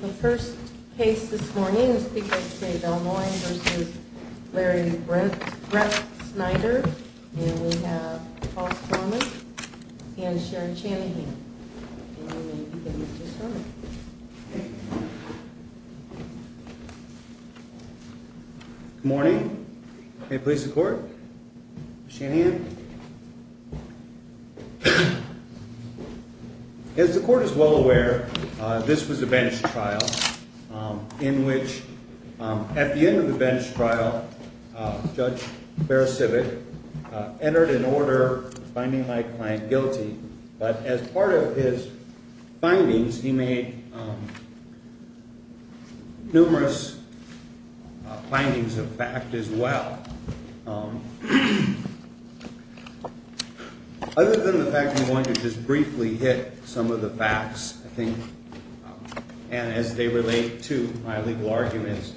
The first case this morning is because of Del Moine v. Larry Bretsnyder, and we have Ross Norman and Sherry Shanahan. Good morning. May it please the court. Shanahan. As the court is well aware, this was a bench trial in which, at the end of the bench trial, Judge Beresivit entered an order finding my client guilty, but as part of his findings, he made numerous findings of fact as well. Other than the fact that I'm going to just briefly hit some of the facts, I think, and as they relate to my legal arguments,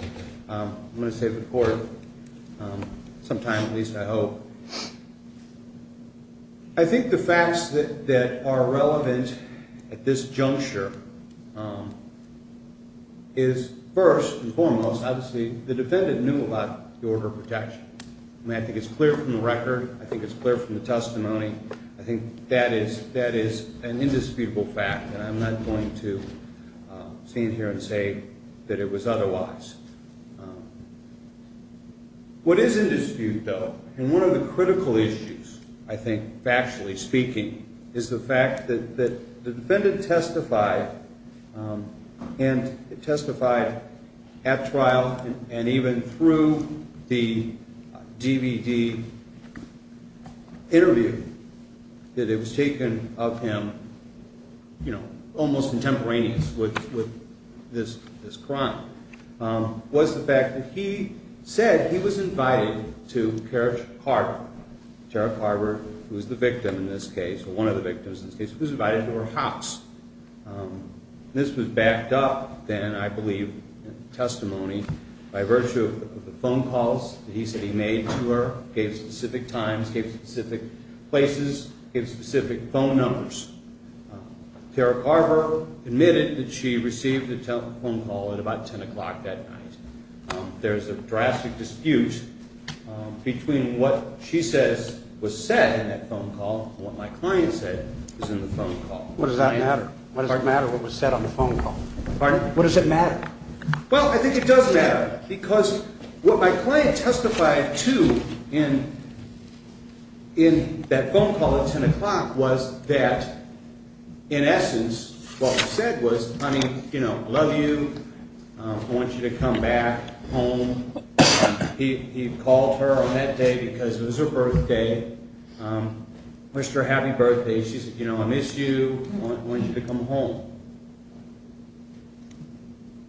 I'm going to save it for sometime, at least I hope. I think the facts that are relevant at this juncture is, first and foremost, obviously, the defendant knew about the order of protection. I mean, I think it's clear from the record. I think it's clear from the testimony. I think that is an indisputable fact, and I'm not going to stand here and say that it was otherwise. What is in dispute, though, and one of the critical issues, I think, factually speaking, is the fact that the defendant testified at trial and even through the DVD interview, that it was taken of him almost contemporaneous with this crime, was the fact that he said he was invited to Kara Carver, who was the victim in this case, or one of the victims in this case, was invited to her house. This was backed up, then, I believe, in testimony by virtue of the phone calls that he said he made to her, gave specific times, gave specific places, gave specific phone numbers. Kara Carver admitted that she received a telephone call at about 10 o'clock that night. There's a drastic dispute between what she says was said in that phone call and what my client said was in the phone call. What does that matter? What does it matter what was said on the phone call? Pardon? What does it matter? Well, I think it does matter, because what my client testified to in that phone call at 10 o'clock was that, in essence, what was said was, honey, I love you, I want you to come back home. He called her on that day because it was her birthday, wished her a happy birthday. She said, you know, I miss you, I want you to come home.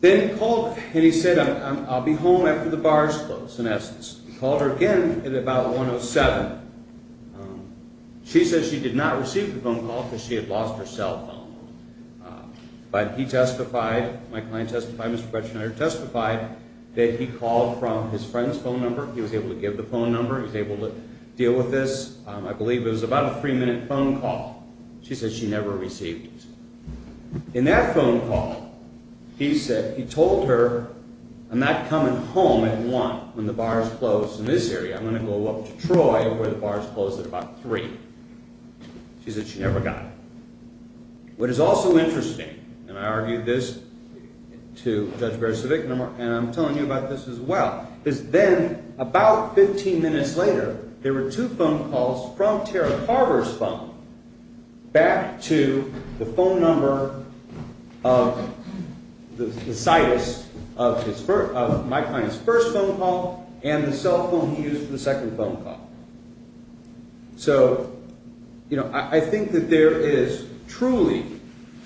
Then he called her and he said, I'll be home after the bar is closed, in essence. He called her again at about 1 o'clock. She said she did not receive the phone call because she had lost her cell phone. But he testified, my client testified, Mr. Bretschneider testified, that he called from his friend's phone number, he was able to give the phone number, he was able to deal with this. I believe it was about a three-minute phone call. She said she never received it. In that phone call, he said, he told her, I'm not coming home at 1 when the bar is closed in this area. I'm going to go up to Troy before the bar is closed at about 3. She said she never got it. What is also interesting, and I argued this to Judge Beresivic, and I'm telling you about this as well, is then, about 15 minutes later, there were two phone calls from Tara Carver's phone back to the phone number of the situs of my client's first phone call and the cell phone he used for the second phone call. So, you know, I think that there is truly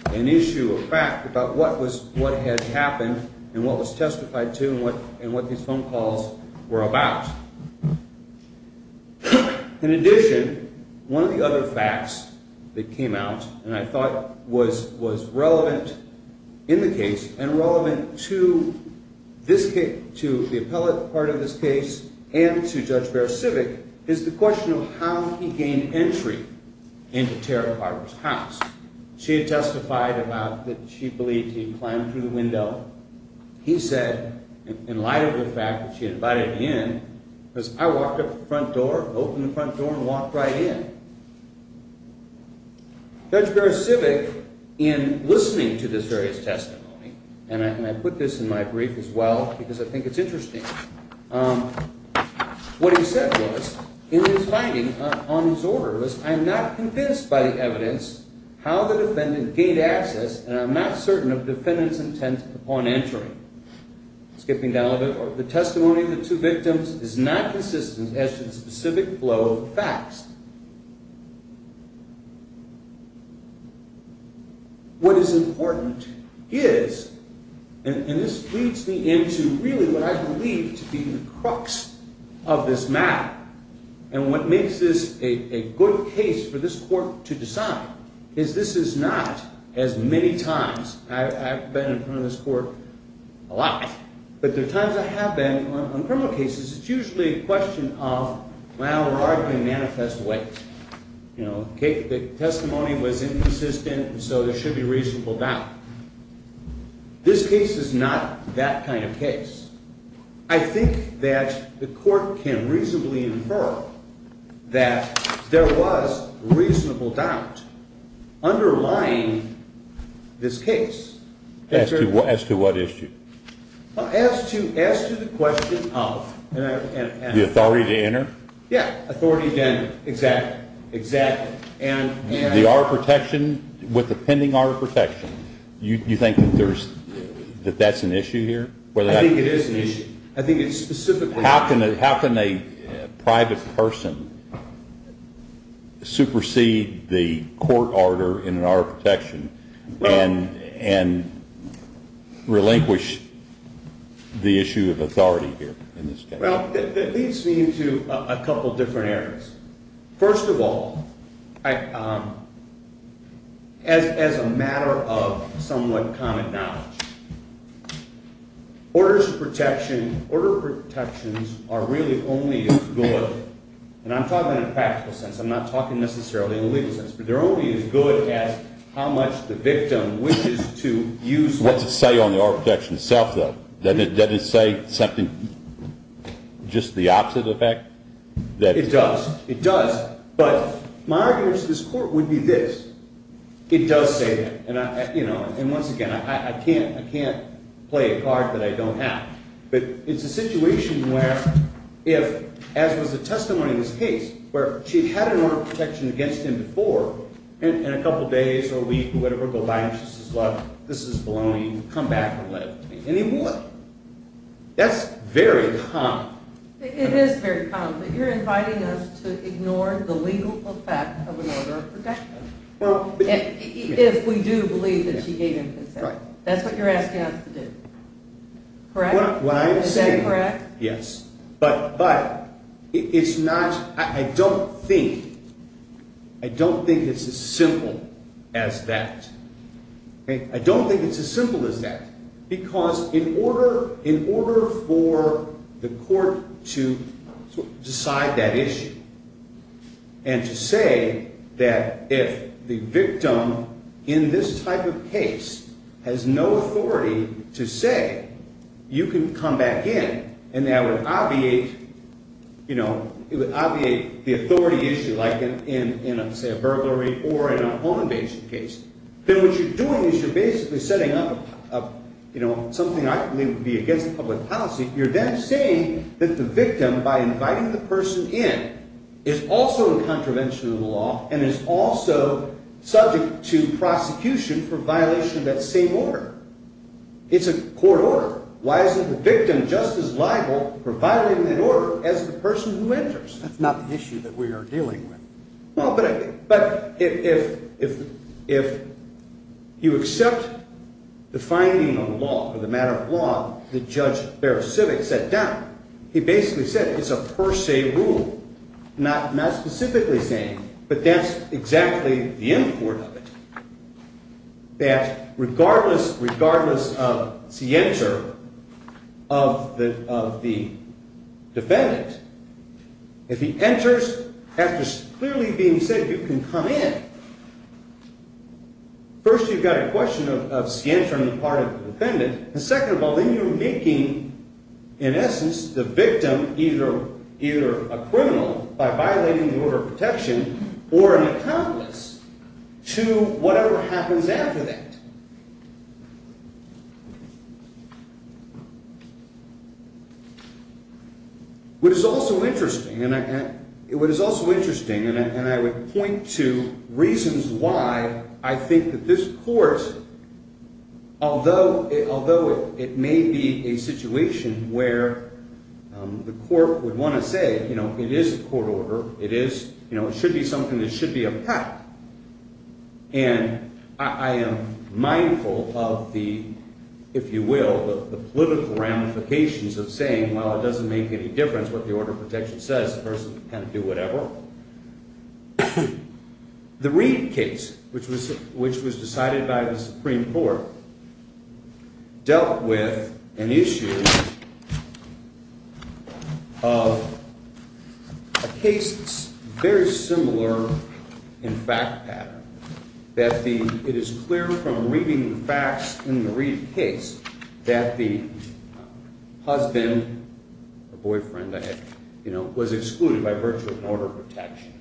an issue of fact about what had happened and what was testified to and what these phone calls were about. In addition, one of the other facts that came out and I thought was relevant in the case and relevant to the appellate part of this case and to Judge Beresivic is the question of how he gained entry into Tara Carver's house. She testified about that she believed he climbed through the door in light of the fact that she invited him in because I walked up to the front door, opened the front door, and walked right in. Judge Beresivic, in listening to this various testimony, and I put this in my brief as well because I think it's interesting, what he said was in his finding on his order was, I'm not convinced by the evidence how the defendant gained access and I'm not certain of the defendant's intent upon entering. Skipping down a bit, the testimony of the two victims is not consistent as to the specific flow of facts. What is important is, and this leads me into really what I believe to be the crux of this matter, and what makes this a good case for this court to decide is this is not as many times, I've been in front of this court a lot, but there are times I have been on criminal cases, it's usually a question of, well, we're arguing manifest ways. The testimony was inconsistent and so there should be reasonable doubt. This case is not that kind of case. I think that the court can reasonably infer that there was reasonable doubt underlying this case. As to what issue? As to the question of... The authority to enter? Yeah, authority to enter, exactly, exactly. The R protection, with the pending R protection, you think that that's an issue here? I think it is an issue. I think it's specifically... How can a private person supersede the court order in an R protection and relinquish the issue of authority here in this case? Well, it leads me into a couple of different areas. First of all, as a matter of somewhat common knowledge, orders of protection, order of protections are really only as good, and I'm talking in a practical sense, I'm not talking necessarily in a legal sense, but they're only as good as how much the victim wishes to use... What's it say on the R protection itself, though? Does it say something, just the opposite effect? It does. It does. But my argument to this court would be this. It does say that. And once again, I can't play a card that I don't have. But it's a situation where if, as was the testimony in this case, where she had had an order of protection against him before, in a couple of days or a week or whatever, go by and she says, look, this is blowing, come back and let it be. That's very common. It is very common, but you're inviting us to ignore the legal effect of an order of protection if we do believe that she gave him consent. That's what you're asking us to do. Correct? Is that correct? Yes. But it's not, I don't think, I don't think it's as simple as that. I don't think it's as simple as that, because in order for the court to decide that issue and to say that if the victim in this type of case has no authority to say you can come back in and that would obviate, you know, it would obviate the authority issue, like in, say, a burglary or an on-basis case, then what you're doing is you're basically setting up, you know, something I believe would be against the public policy. You're then saying that the victim, by inviting the person in, is also a contravention of the law and is also subject to prosecution for violation of that same order. It's a court order. Why isn't the victim just as liable for violating that order as the person who enters? That's not the issue that we are dealing with. Well, but if you accept the finding on the law or the matter of law that Judge Barrow-Civic set down, he basically said it's a per se rule, not specifically saying, but that's exactly the import of it, that regardless of scienter of the defendant, if he enters after clearly being said you can come in, first you've got a question of scienter on the part of the defendant, and second of all, then you're making, in essence, the victim either a criminal by violating the order of protection or an accomplice to whatever happens after that. What is also interesting, and I would point to reasons why I think that this court, although it may be a situation where the court would want to say, you know, it is a court order, it is, you know, it should be something that should be a pact, and I am mindful of the, if you will, the political ramifications of saying, well, it doesn't make any difference what the order of protection says, the person can do whatever. The Reid case, which was decided by the Supreme Court, dealt with an issue of a case very similar in fact pattern, that it is clear from reading the facts in the Reid case that the husband or boyfriend, you know, was excluded by virtue of an order of protection.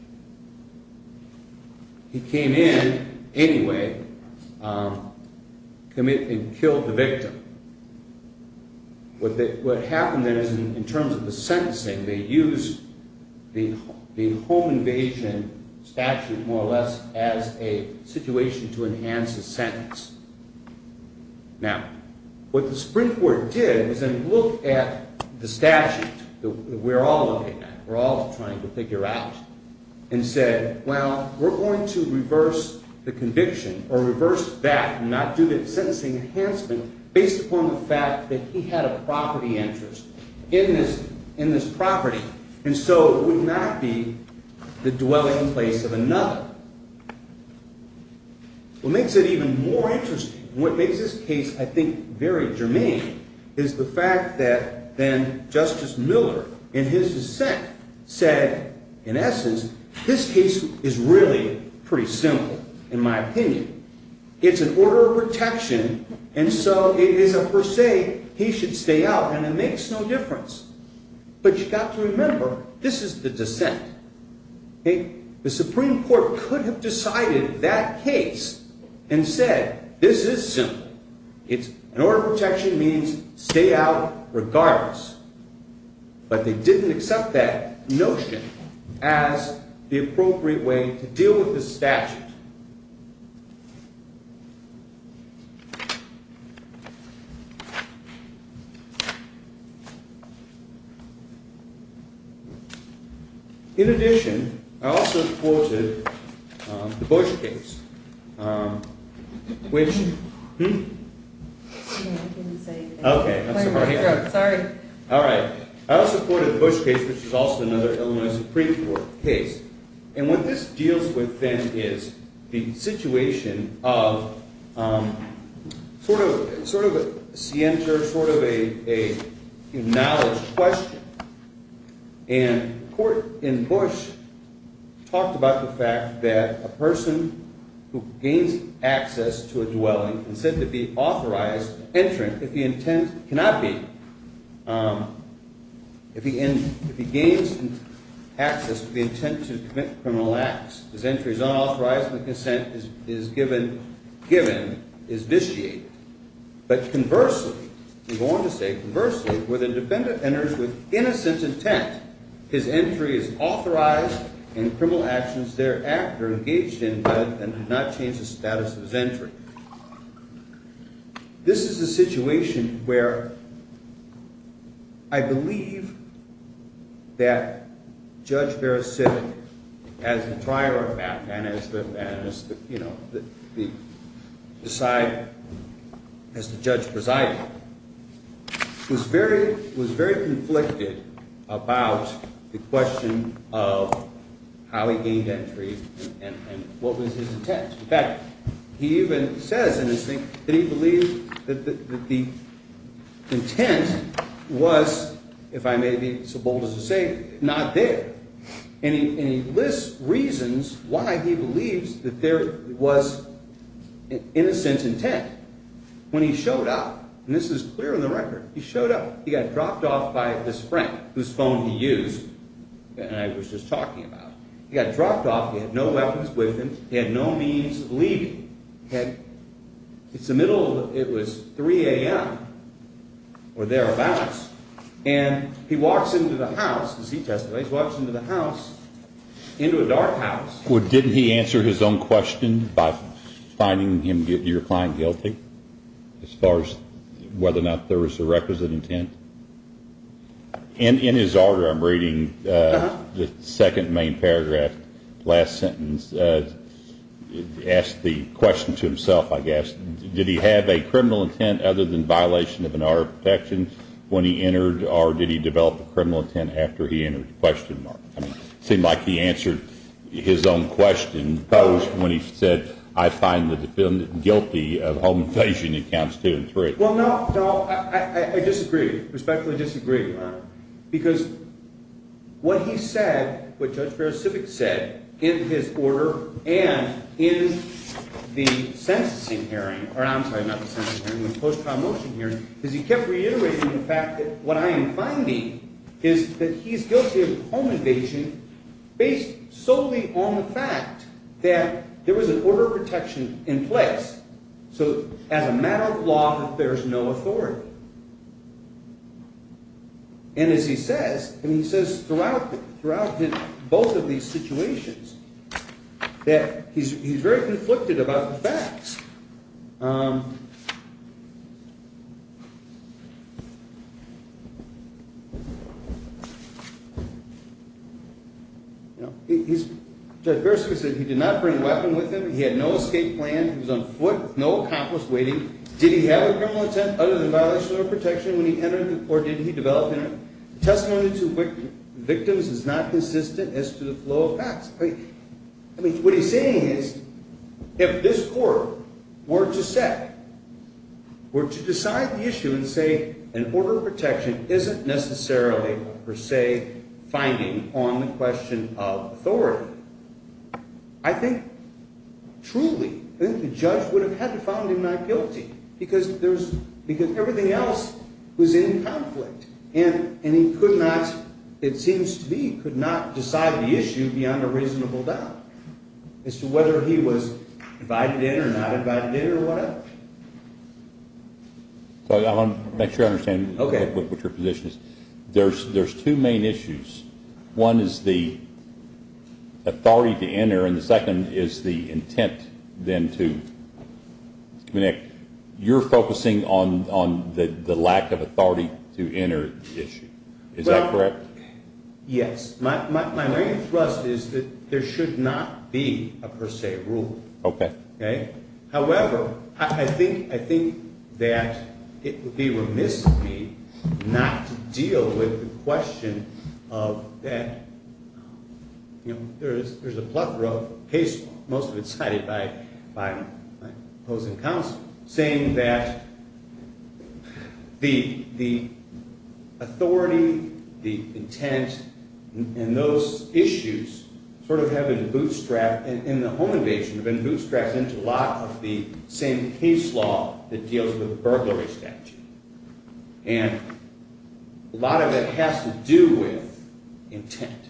He came in anyway, committed and killed the victim. What happened then is in terms of the sentencing, they used the home invasion statute more or less Now, what the Supreme Court did was then look at the statute that we are all looking at, we are all trying to figure out, and said, well, we are going to reverse the conviction or reverse that and not do the sentencing enhancement based upon the fact that he had a property interest in this property, and so it would not be the dwelling place of another. What makes it even more interesting, what makes this case, I think, very germane, is the fact that then Justice Miller, in his dissent, said, in essence, this case is really pretty simple, in my opinion. It's an order of protection, and so it is a per se, he should stay out, and it makes no difference. But you've got to remember, this is the dissent. The Supreme Court could have decided that case and said, this is simple. An order of protection means stay out regardless. But they didn't accept that notion as the appropriate way to deal with this statute. In addition, I also quoted the Bush case, which is also another Illinois Supreme Court case, and what this deals with then is the situation of sort of a scienter, sort of a knowledge question, and the court in Bush talked about the fact that a person who gains access to a dwelling and said to be authorized entering, if he gains access to the intent to commit criminal acts, his entry is unauthorized and the consent is given, is vitiated. But conversely, he's going to say, conversely, where the defendant enters with innocent intent, his entry is authorized and criminal actions thereafter engaged in but did not change the status of his entry. This is a situation where I believe that Judge Beresivit, as the trier of that, and as the, you know, as the judge presiding, was very conflicted about the question of how he gained entry and what was his intent. In fact, he even says in his thing that he believed that the intent was, if I may be so bold as to say, not there. And he lists reasons why he believes that there was innocent intent. When he showed up, and this is clear in the record, he showed up, he got dropped off by this friend, whose phone he used and I was just talking about. He got dropped off, he had no weapons with him, he had no means of leaving. It's the middle of, it was 3 a.m. or thereabouts, and he walks into the house, as he testified, he walks into the house, into a dark house. Well, didn't he answer his own question by finding your client guilty as far as whether or not there was a requisite intent? In his order, I'm reading the second main paragraph, last sentence, asks the question to himself, I guess, did he have a criminal intent other than violation of an order of protection when he entered or did he develop a criminal intent after he entered the question mark? It seemed like he answered his own question when he said, I find the defendant guilty of home invasion in counts 2 and 3. Well, no, I disagree, respectfully disagree, Your Honor. Because what he said, what Judge Barrett-Civic said in his order and in the censusing hearing, or I'm sorry, not the censusing hearing, the post-con motion hearing, is he kept reiterating the fact that what I am finding is that he's guilty of home invasion based solely on the fact that there was an order of protection in place. So as a matter of law, there's no authority. And as he says, and he says throughout both of these situations, that he's very conflicted about the facts. Judge Barrett-Civic said he did not bring a weapon with him, he had no escape plan, he was on foot, no accomplice waiting. Did he have a criminal intent other than violation of order of protection when he entered or did he develop it? Testimony to victims is not consistent as to the flow of facts. I mean, what he's saying is if this court were to set, were to decide the issue and say an order of protection isn't necessarily, per se, finding on the question of authority, I think truly the judge would have had to find him not guilty because everything else was in conflict. And he could not, it seems to be, could not decide the issue beyond a reasonable doubt as to whether he was invited in or not invited in or whatever. I want to make sure I understand what your position is. There's two main issues. One is the authority to enter and the second is the intent then to. Nick, you're focusing on the lack of authority to enter issue. Is that correct? Well, yes. My main thrust is that there should not be a per se rule. Okay. However, I think, I think that it would be remiss of me not to deal with the question of that. There's a plethora of cases, most of it cited by opposing counsel, saying that the authority, the intent, and those issues sort of have been bootstrapped. And the home invasion has been bootstrapped into a lot of the same case law that deals with burglary statute. And a lot of it has to do with intent.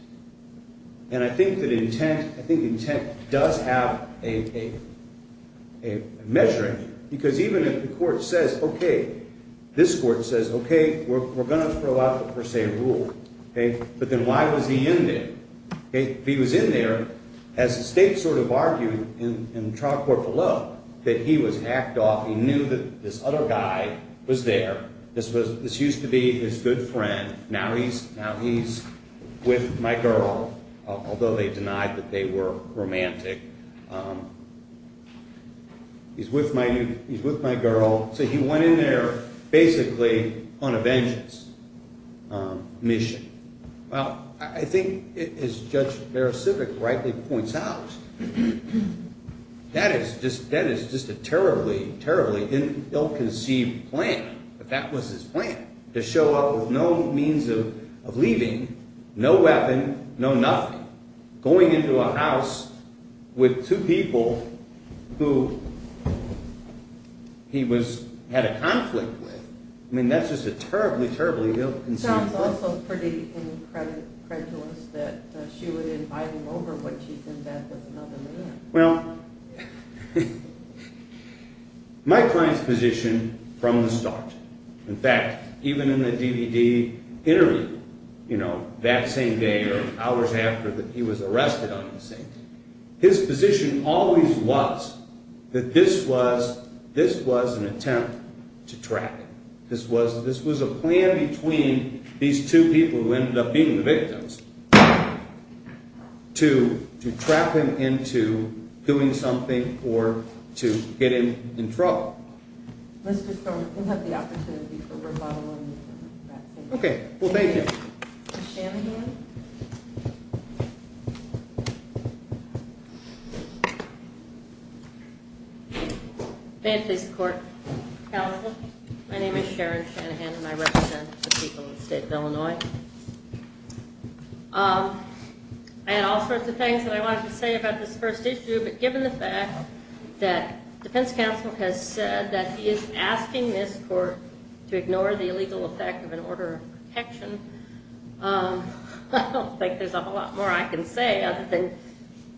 And I think that intent, I think intent does have a measuring because even if the court says, okay, this court says, okay, we're going to throw out the per se rule. Okay. But then why was he in there? Okay. If he was in there, as the state sort of argued in the trial court below, that he was hacked off, he knew that this other guy was there. This was, this used to be his good friend. Now he's, now he's with my girl, although they denied that they were romantic. He's with my, he's with my girl. So he went in there basically on a vengeance mission. Well, I think as Judge Beresivic rightly points out, that is just, that is just a terribly, terribly ill-conceived plan. But that was his plan, to show up with no means of leaving, no weapon, no nothing, going into a house with two people who he was, had a conflict with. I mean, that's just a terribly, terribly ill-conceived plan. It sounds also pretty incredulous that she would invite him over when she's in bed with another man. Well, my client's position from the start, in fact, even in the DVD interview, you know, that same day or hours after that he was arrested on the same day, his position always was that this was, this was an attempt to track him. This was, this was a plan between these two people who ended up being the victims to, to trap him into doing something or to get him in trouble. Let's just go, we'll have the opportunity for rebuttal on that. Okay, well thank you. Ms. Shanahan. May it please the court, counsel. My name is Sharon Shanahan and I represent the people of the state of Illinois. I had all sorts of things that I wanted to say about this first issue, but given the fact that defense counsel has said that he is asking this court to ignore the illegal effect of an order of protection, I don't think there's a whole lot more I can say other than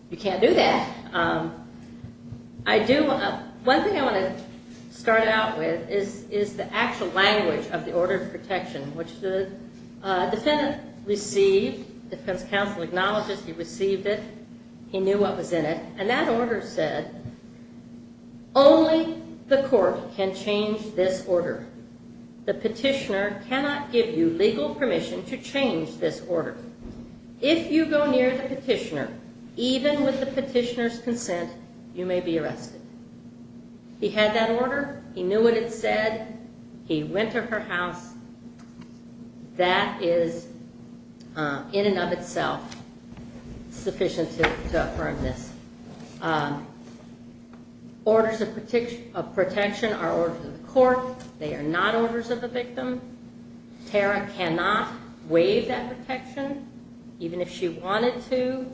you can't do that. I do, one thing I want to start out with is, is the actual language of the order of protection, which the defendant received, defense counsel acknowledges he received it, he knew what was in it. And that order said, only the court can change this order. The petitioner cannot give you legal permission to change this order. If you go near the petitioner, even with the petitioner's consent, you may be arrested. He had that order, he knew what it said, he went to her house, that is in and of itself sufficient to affirm this. Orders of protection are orders of the court, they are not orders of the victim. Tara cannot waive that protection, even if she wanted to,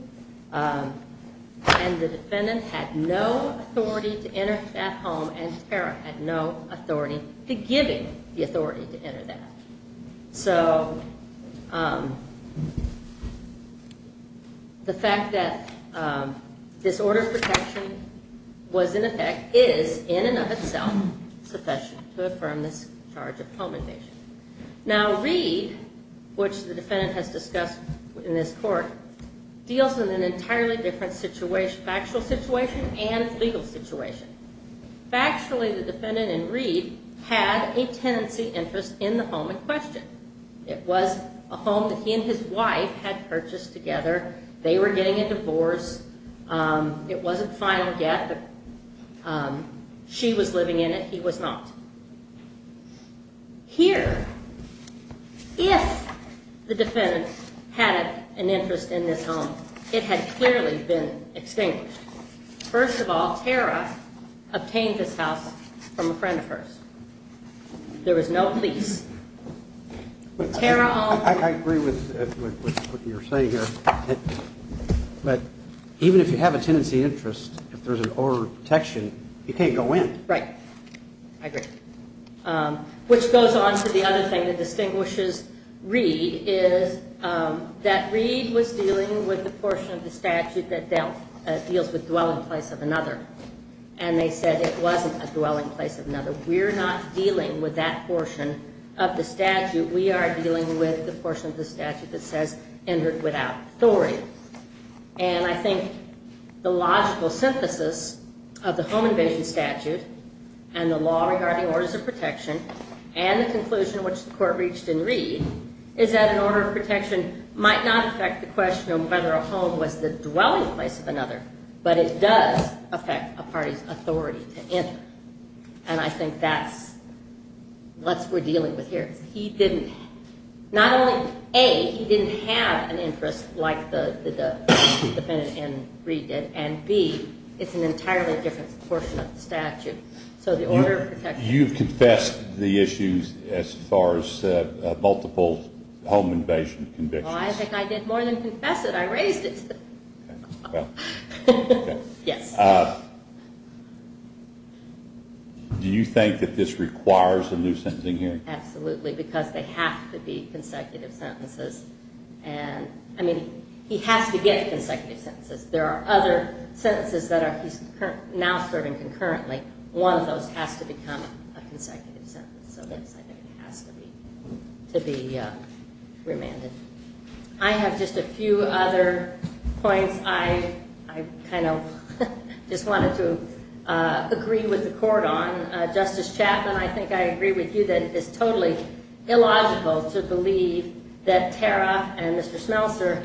and the defendant had no authority to enter that home and Tara had no authority to give him the authority to enter that. So the fact that this order of protection was in effect is in and of itself sufficient to affirm this charge of home invasion. Now Reed, which the defendant has discussed in this court, deals with an entirely different factual situation and legal situation. Factually, the defendant in Reed had a tenancy interest in the home in question. It was a home that he and his wife had purchased together, they were getting a divorce, it wasn't final yet, she was living in it, he was not. Here, if the defendant had an interest in this home, it had clearly been extinguished. First of all, Tara obtained this house from a friend of hers. There was no police. I agree with what you're saying here, but even if you have a tenancy interest, if there's an order of protection, you can't go in. Right, I agree. Which goes on to the other thing that distinguishes Reed is that Reed was dealing with the portion of the statute that deals with dwelling place of another. And they said it wasn't a dwelling place of another. We're not dealing with that portion of the statute. We are dealing with the portion of the statute that says entered without authority. And I think the logical synthesis of the home invasion statute and the law regarding orders of protection, and the conclusion which the court reached in Reed, is that an order of protection might not affect the question of whether a home was the dwelling place of another, but it does affect a party's authority to enter. And I think that's what we're dealing with here. Not only A, he didn't have an interest like the defendant in Reed did, and B, it's an entirely different portion of the statute. You've confessed the issues as far as multiple home invasion convictions. I think I did more than confess it. I raised it. Yes. Do you think that this requires a new sentencing hearing? Absolutely, because they have to be consecutive sentences. I mean, he has to get consecutive sentences. There are other sentences that he's now serving concurrently. One of those has to become a consecutive sentence. So, yes, I think it has to be remanded. I have just a few other points I kind of just wanted to agree with the court on. Justice Chapman, I think I agree with you that it's totally illogical to believe that Tara and Mr. Smelser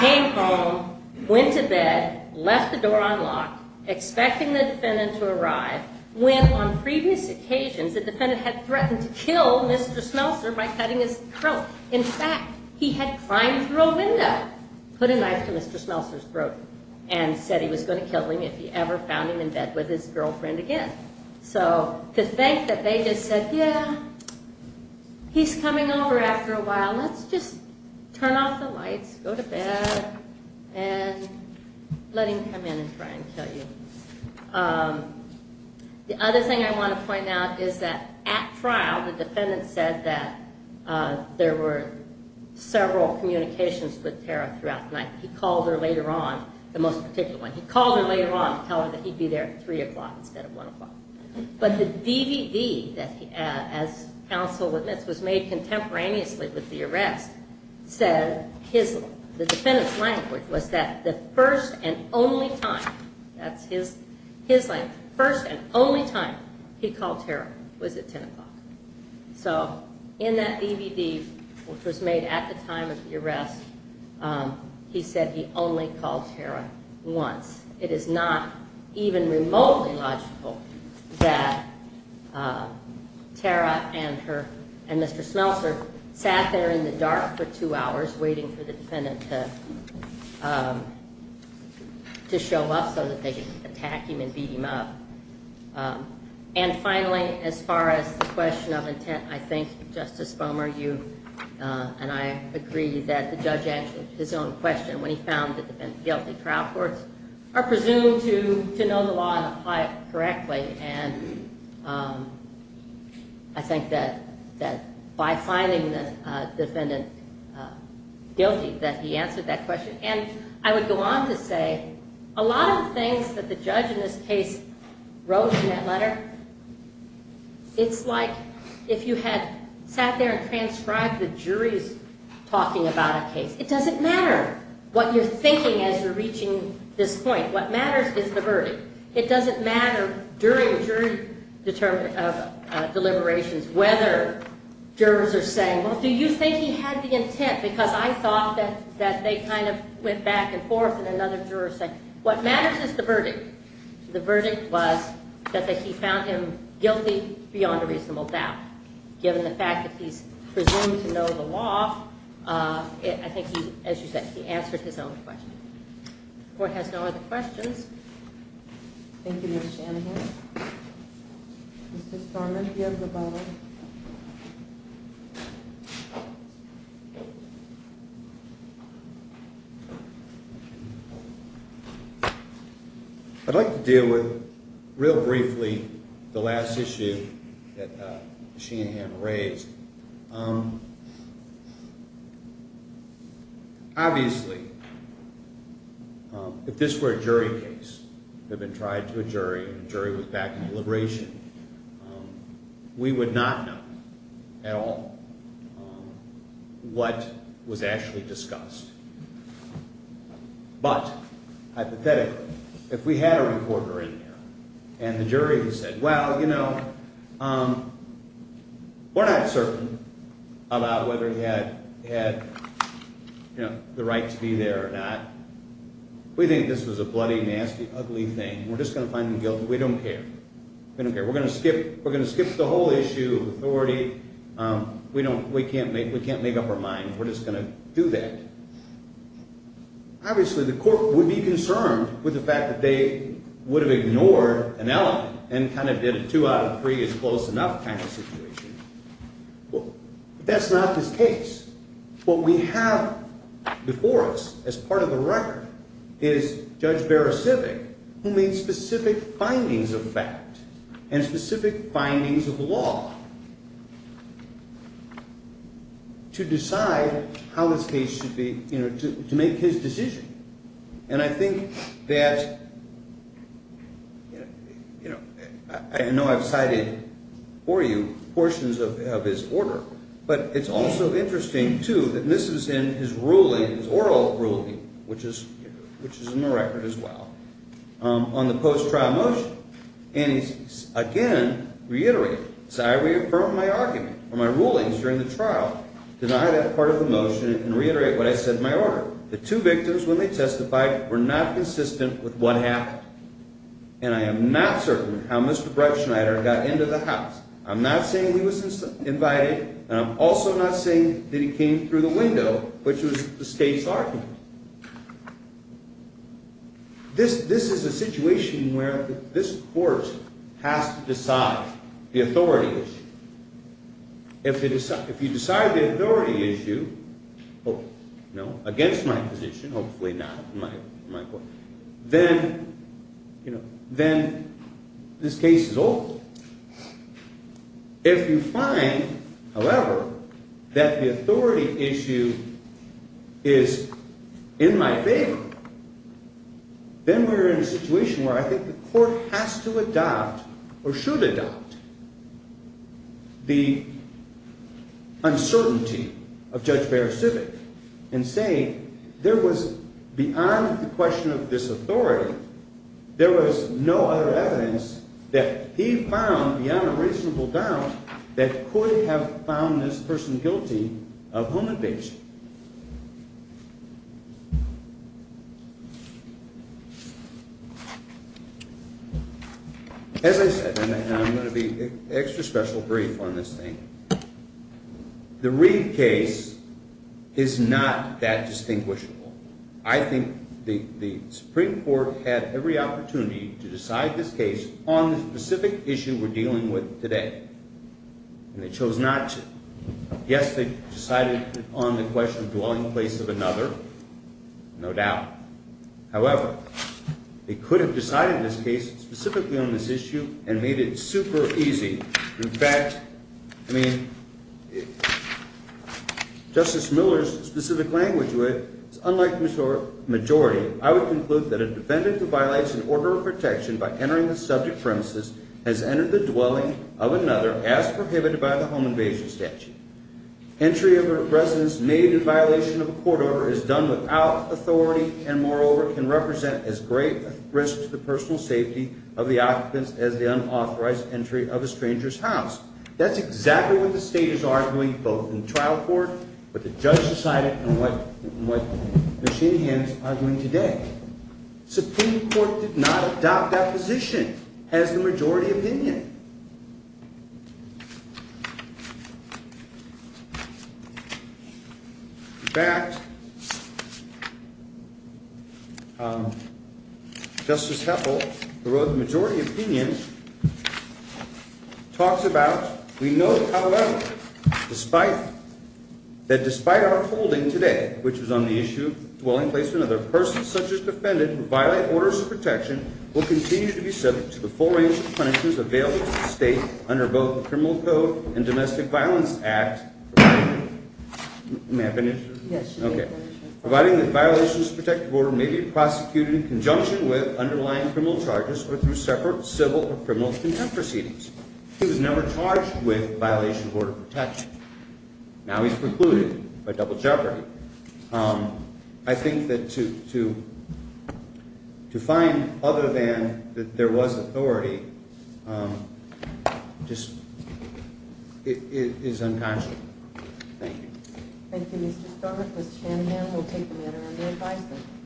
came home, went to bed, left the door unlocked, expecting the defendant to arrive when on previous occasions the defendant had threatened to kill Mr. Smelser by cutting his throat. In fact, he had climbed through a window, put a knife to Mr. Smelser's throat, and said he was going to kill him if he ever found him in bed with his girlfriend again. So to think that they just said, yeah, he's coming over after a while. Let's just turn off the lights, go to bed, and let him come in and try and kill you. The other thing I want to point out is that at trial the defendant said that there were several communications with Tara throughout the night. He called her later on, the most particular one. He called her later on to tell her that he'd be there at 3 o'clock instead of 1 o'clock. But the DVD that, as counsel admits, was made contemporaneously with the arrest said his, the defendant's language was that the first and only time, that's his language, the first and only time he called Tara was at 10 o'clock. So in that DVD, which was made at the time of the arrest, he said he only called Tara once. It is not even remotely logical that Tara and her, and Mr. Smelser sat there in the dark for two hours waiting for the defendant to show up so that they could attack him and beat him up. And finally, as far as the question of intent, I think Justice Bomer, you and I agree that the judge answered his own question when he found the defendant guilty. Trial courts are presumed to know the law and apply it correctly. And I think that by finding the defendant guilty that he answered that question. And I would go on to say a lot of things that the judge in this case wrote in that letter, it's like if you had sat there and transcribed the jury's talking about a case. It doesn't matter what you're thinking as you're reaching this point. It doesn't matter during jury deliberations whether jurors are saying, well, do you think he had the intent? Because I thought that they kind of went back and forth and another juror said, what matters is the verdict. The verdict was that he found him guilty beyond a reasonable doubt. Given the fact that he's presumed to know the law, I think he, as you said, he answered his own question. The court has no other questions. Thank you, Ms. Shanahan. Mr. Starman, you have the ball. I'd like to deal with, real briefly, the last issue that Ms. Shanahan raised. Obviously, if this were a jury case that had been tried to a jury and the jury was back in deliberation, we would not know at all what was actually discussed. But, hypothetically, if we had a reporter in there and the jury said, well, you know, we're not certain about whether he had the right to be there or not. We think this was a bloody, nasty, ugly thing. We're just going to find him guilty. We don't care. We don't care. We're going to skip the whole issue of authority. We can't make up our mind. We're just going to do that. Obviously, the court would be concerned with the fact that they would have ignored an element and kind of did a two out of three is close enough kind of situation. But that's not this case. What we have before us as part of the record is Judge Beresivic, who made specific findings of fact and specific findings of law to decide how this case should be, you know, to make his decision. And I think that, you know, I know I've cited for you portions of his order, but it's also interesting, too, that this is in his ruling, his oral ruling, which is in the record as well, on the post-trial motion. And he's, again, reiterating. He says, I reaffirm my argument or my rulings during the trial, deny that part of the motion, and reiterate what I said in my order. The two victims, when they testified, were not consistent with what happened. And I am not certain how Mr. Breitschneider got into the house. I'm not saying he was invited, and I'm also not saying that he came through the window, which was the state's argument. This is a situation where this court has to decide the authority issue. If you decide the authority issue, against my position, hopefully not in my court, then, you know, then this case is over. If you find, however, that the authority issue is in my favor, then we're in a situation where I think the court has to adopt or should adopt the uncertainty of Judge Beresivit. And say, there was, beyond the question of this authority, there was no other evidence that he found beyond a reasonable doubt that could have found this person guilty of home invasion. As I said, and I'm going to be extra special brief on this thing. The Reed case is not that distinguishable. I think the Supreme Court had every opportunity to decide this case on the specific issue we're dealing with today. And they chose not to. Yes, they decided on the question of dwelling place of another, no doubt. However, they could have decided this case specifically on this issue and made it super easy. In fact, I mean, Justice Miller's specific language was, unlike the majority, I would conclude that a defendant who violates an order of protection by entering the subject premises has entered the dwelling of another as prohibited by the home invasion statute. Entry of a residence made in violation of a court order is done without authority and, moreover, can represent as great a risk to the personal safety of the occupants as the unauthorized entry of a stranger's house. That's exactly what the state is arguing, both in trial court, what the judge decided, and what Machine Hands are doing today. Supreme Court did not adopt that position as the majority opinion. In fact, Justice Heffel, who wrote the majority opinion, talks about, we know, however, that despite our holding today, which was on the issue of dwelling place of another, a person such as defendant who violate orders of protection will continue to be subject to the full range of punishments available to the state under both the Criminal Code and Domestic Violence Act, providing that violations of protective order may be prosecuted in conjunction with underlying criminal charges or through separate civil or criminal contempt proceedings. He was never charged with violation of order of protection. Now he's precluded by double jeopardy. I think that to find other than that there was authority just is unconscionable. Thank you. Thank you, Mr. Stoner. Ms. Shanahan will take the matter under advisement.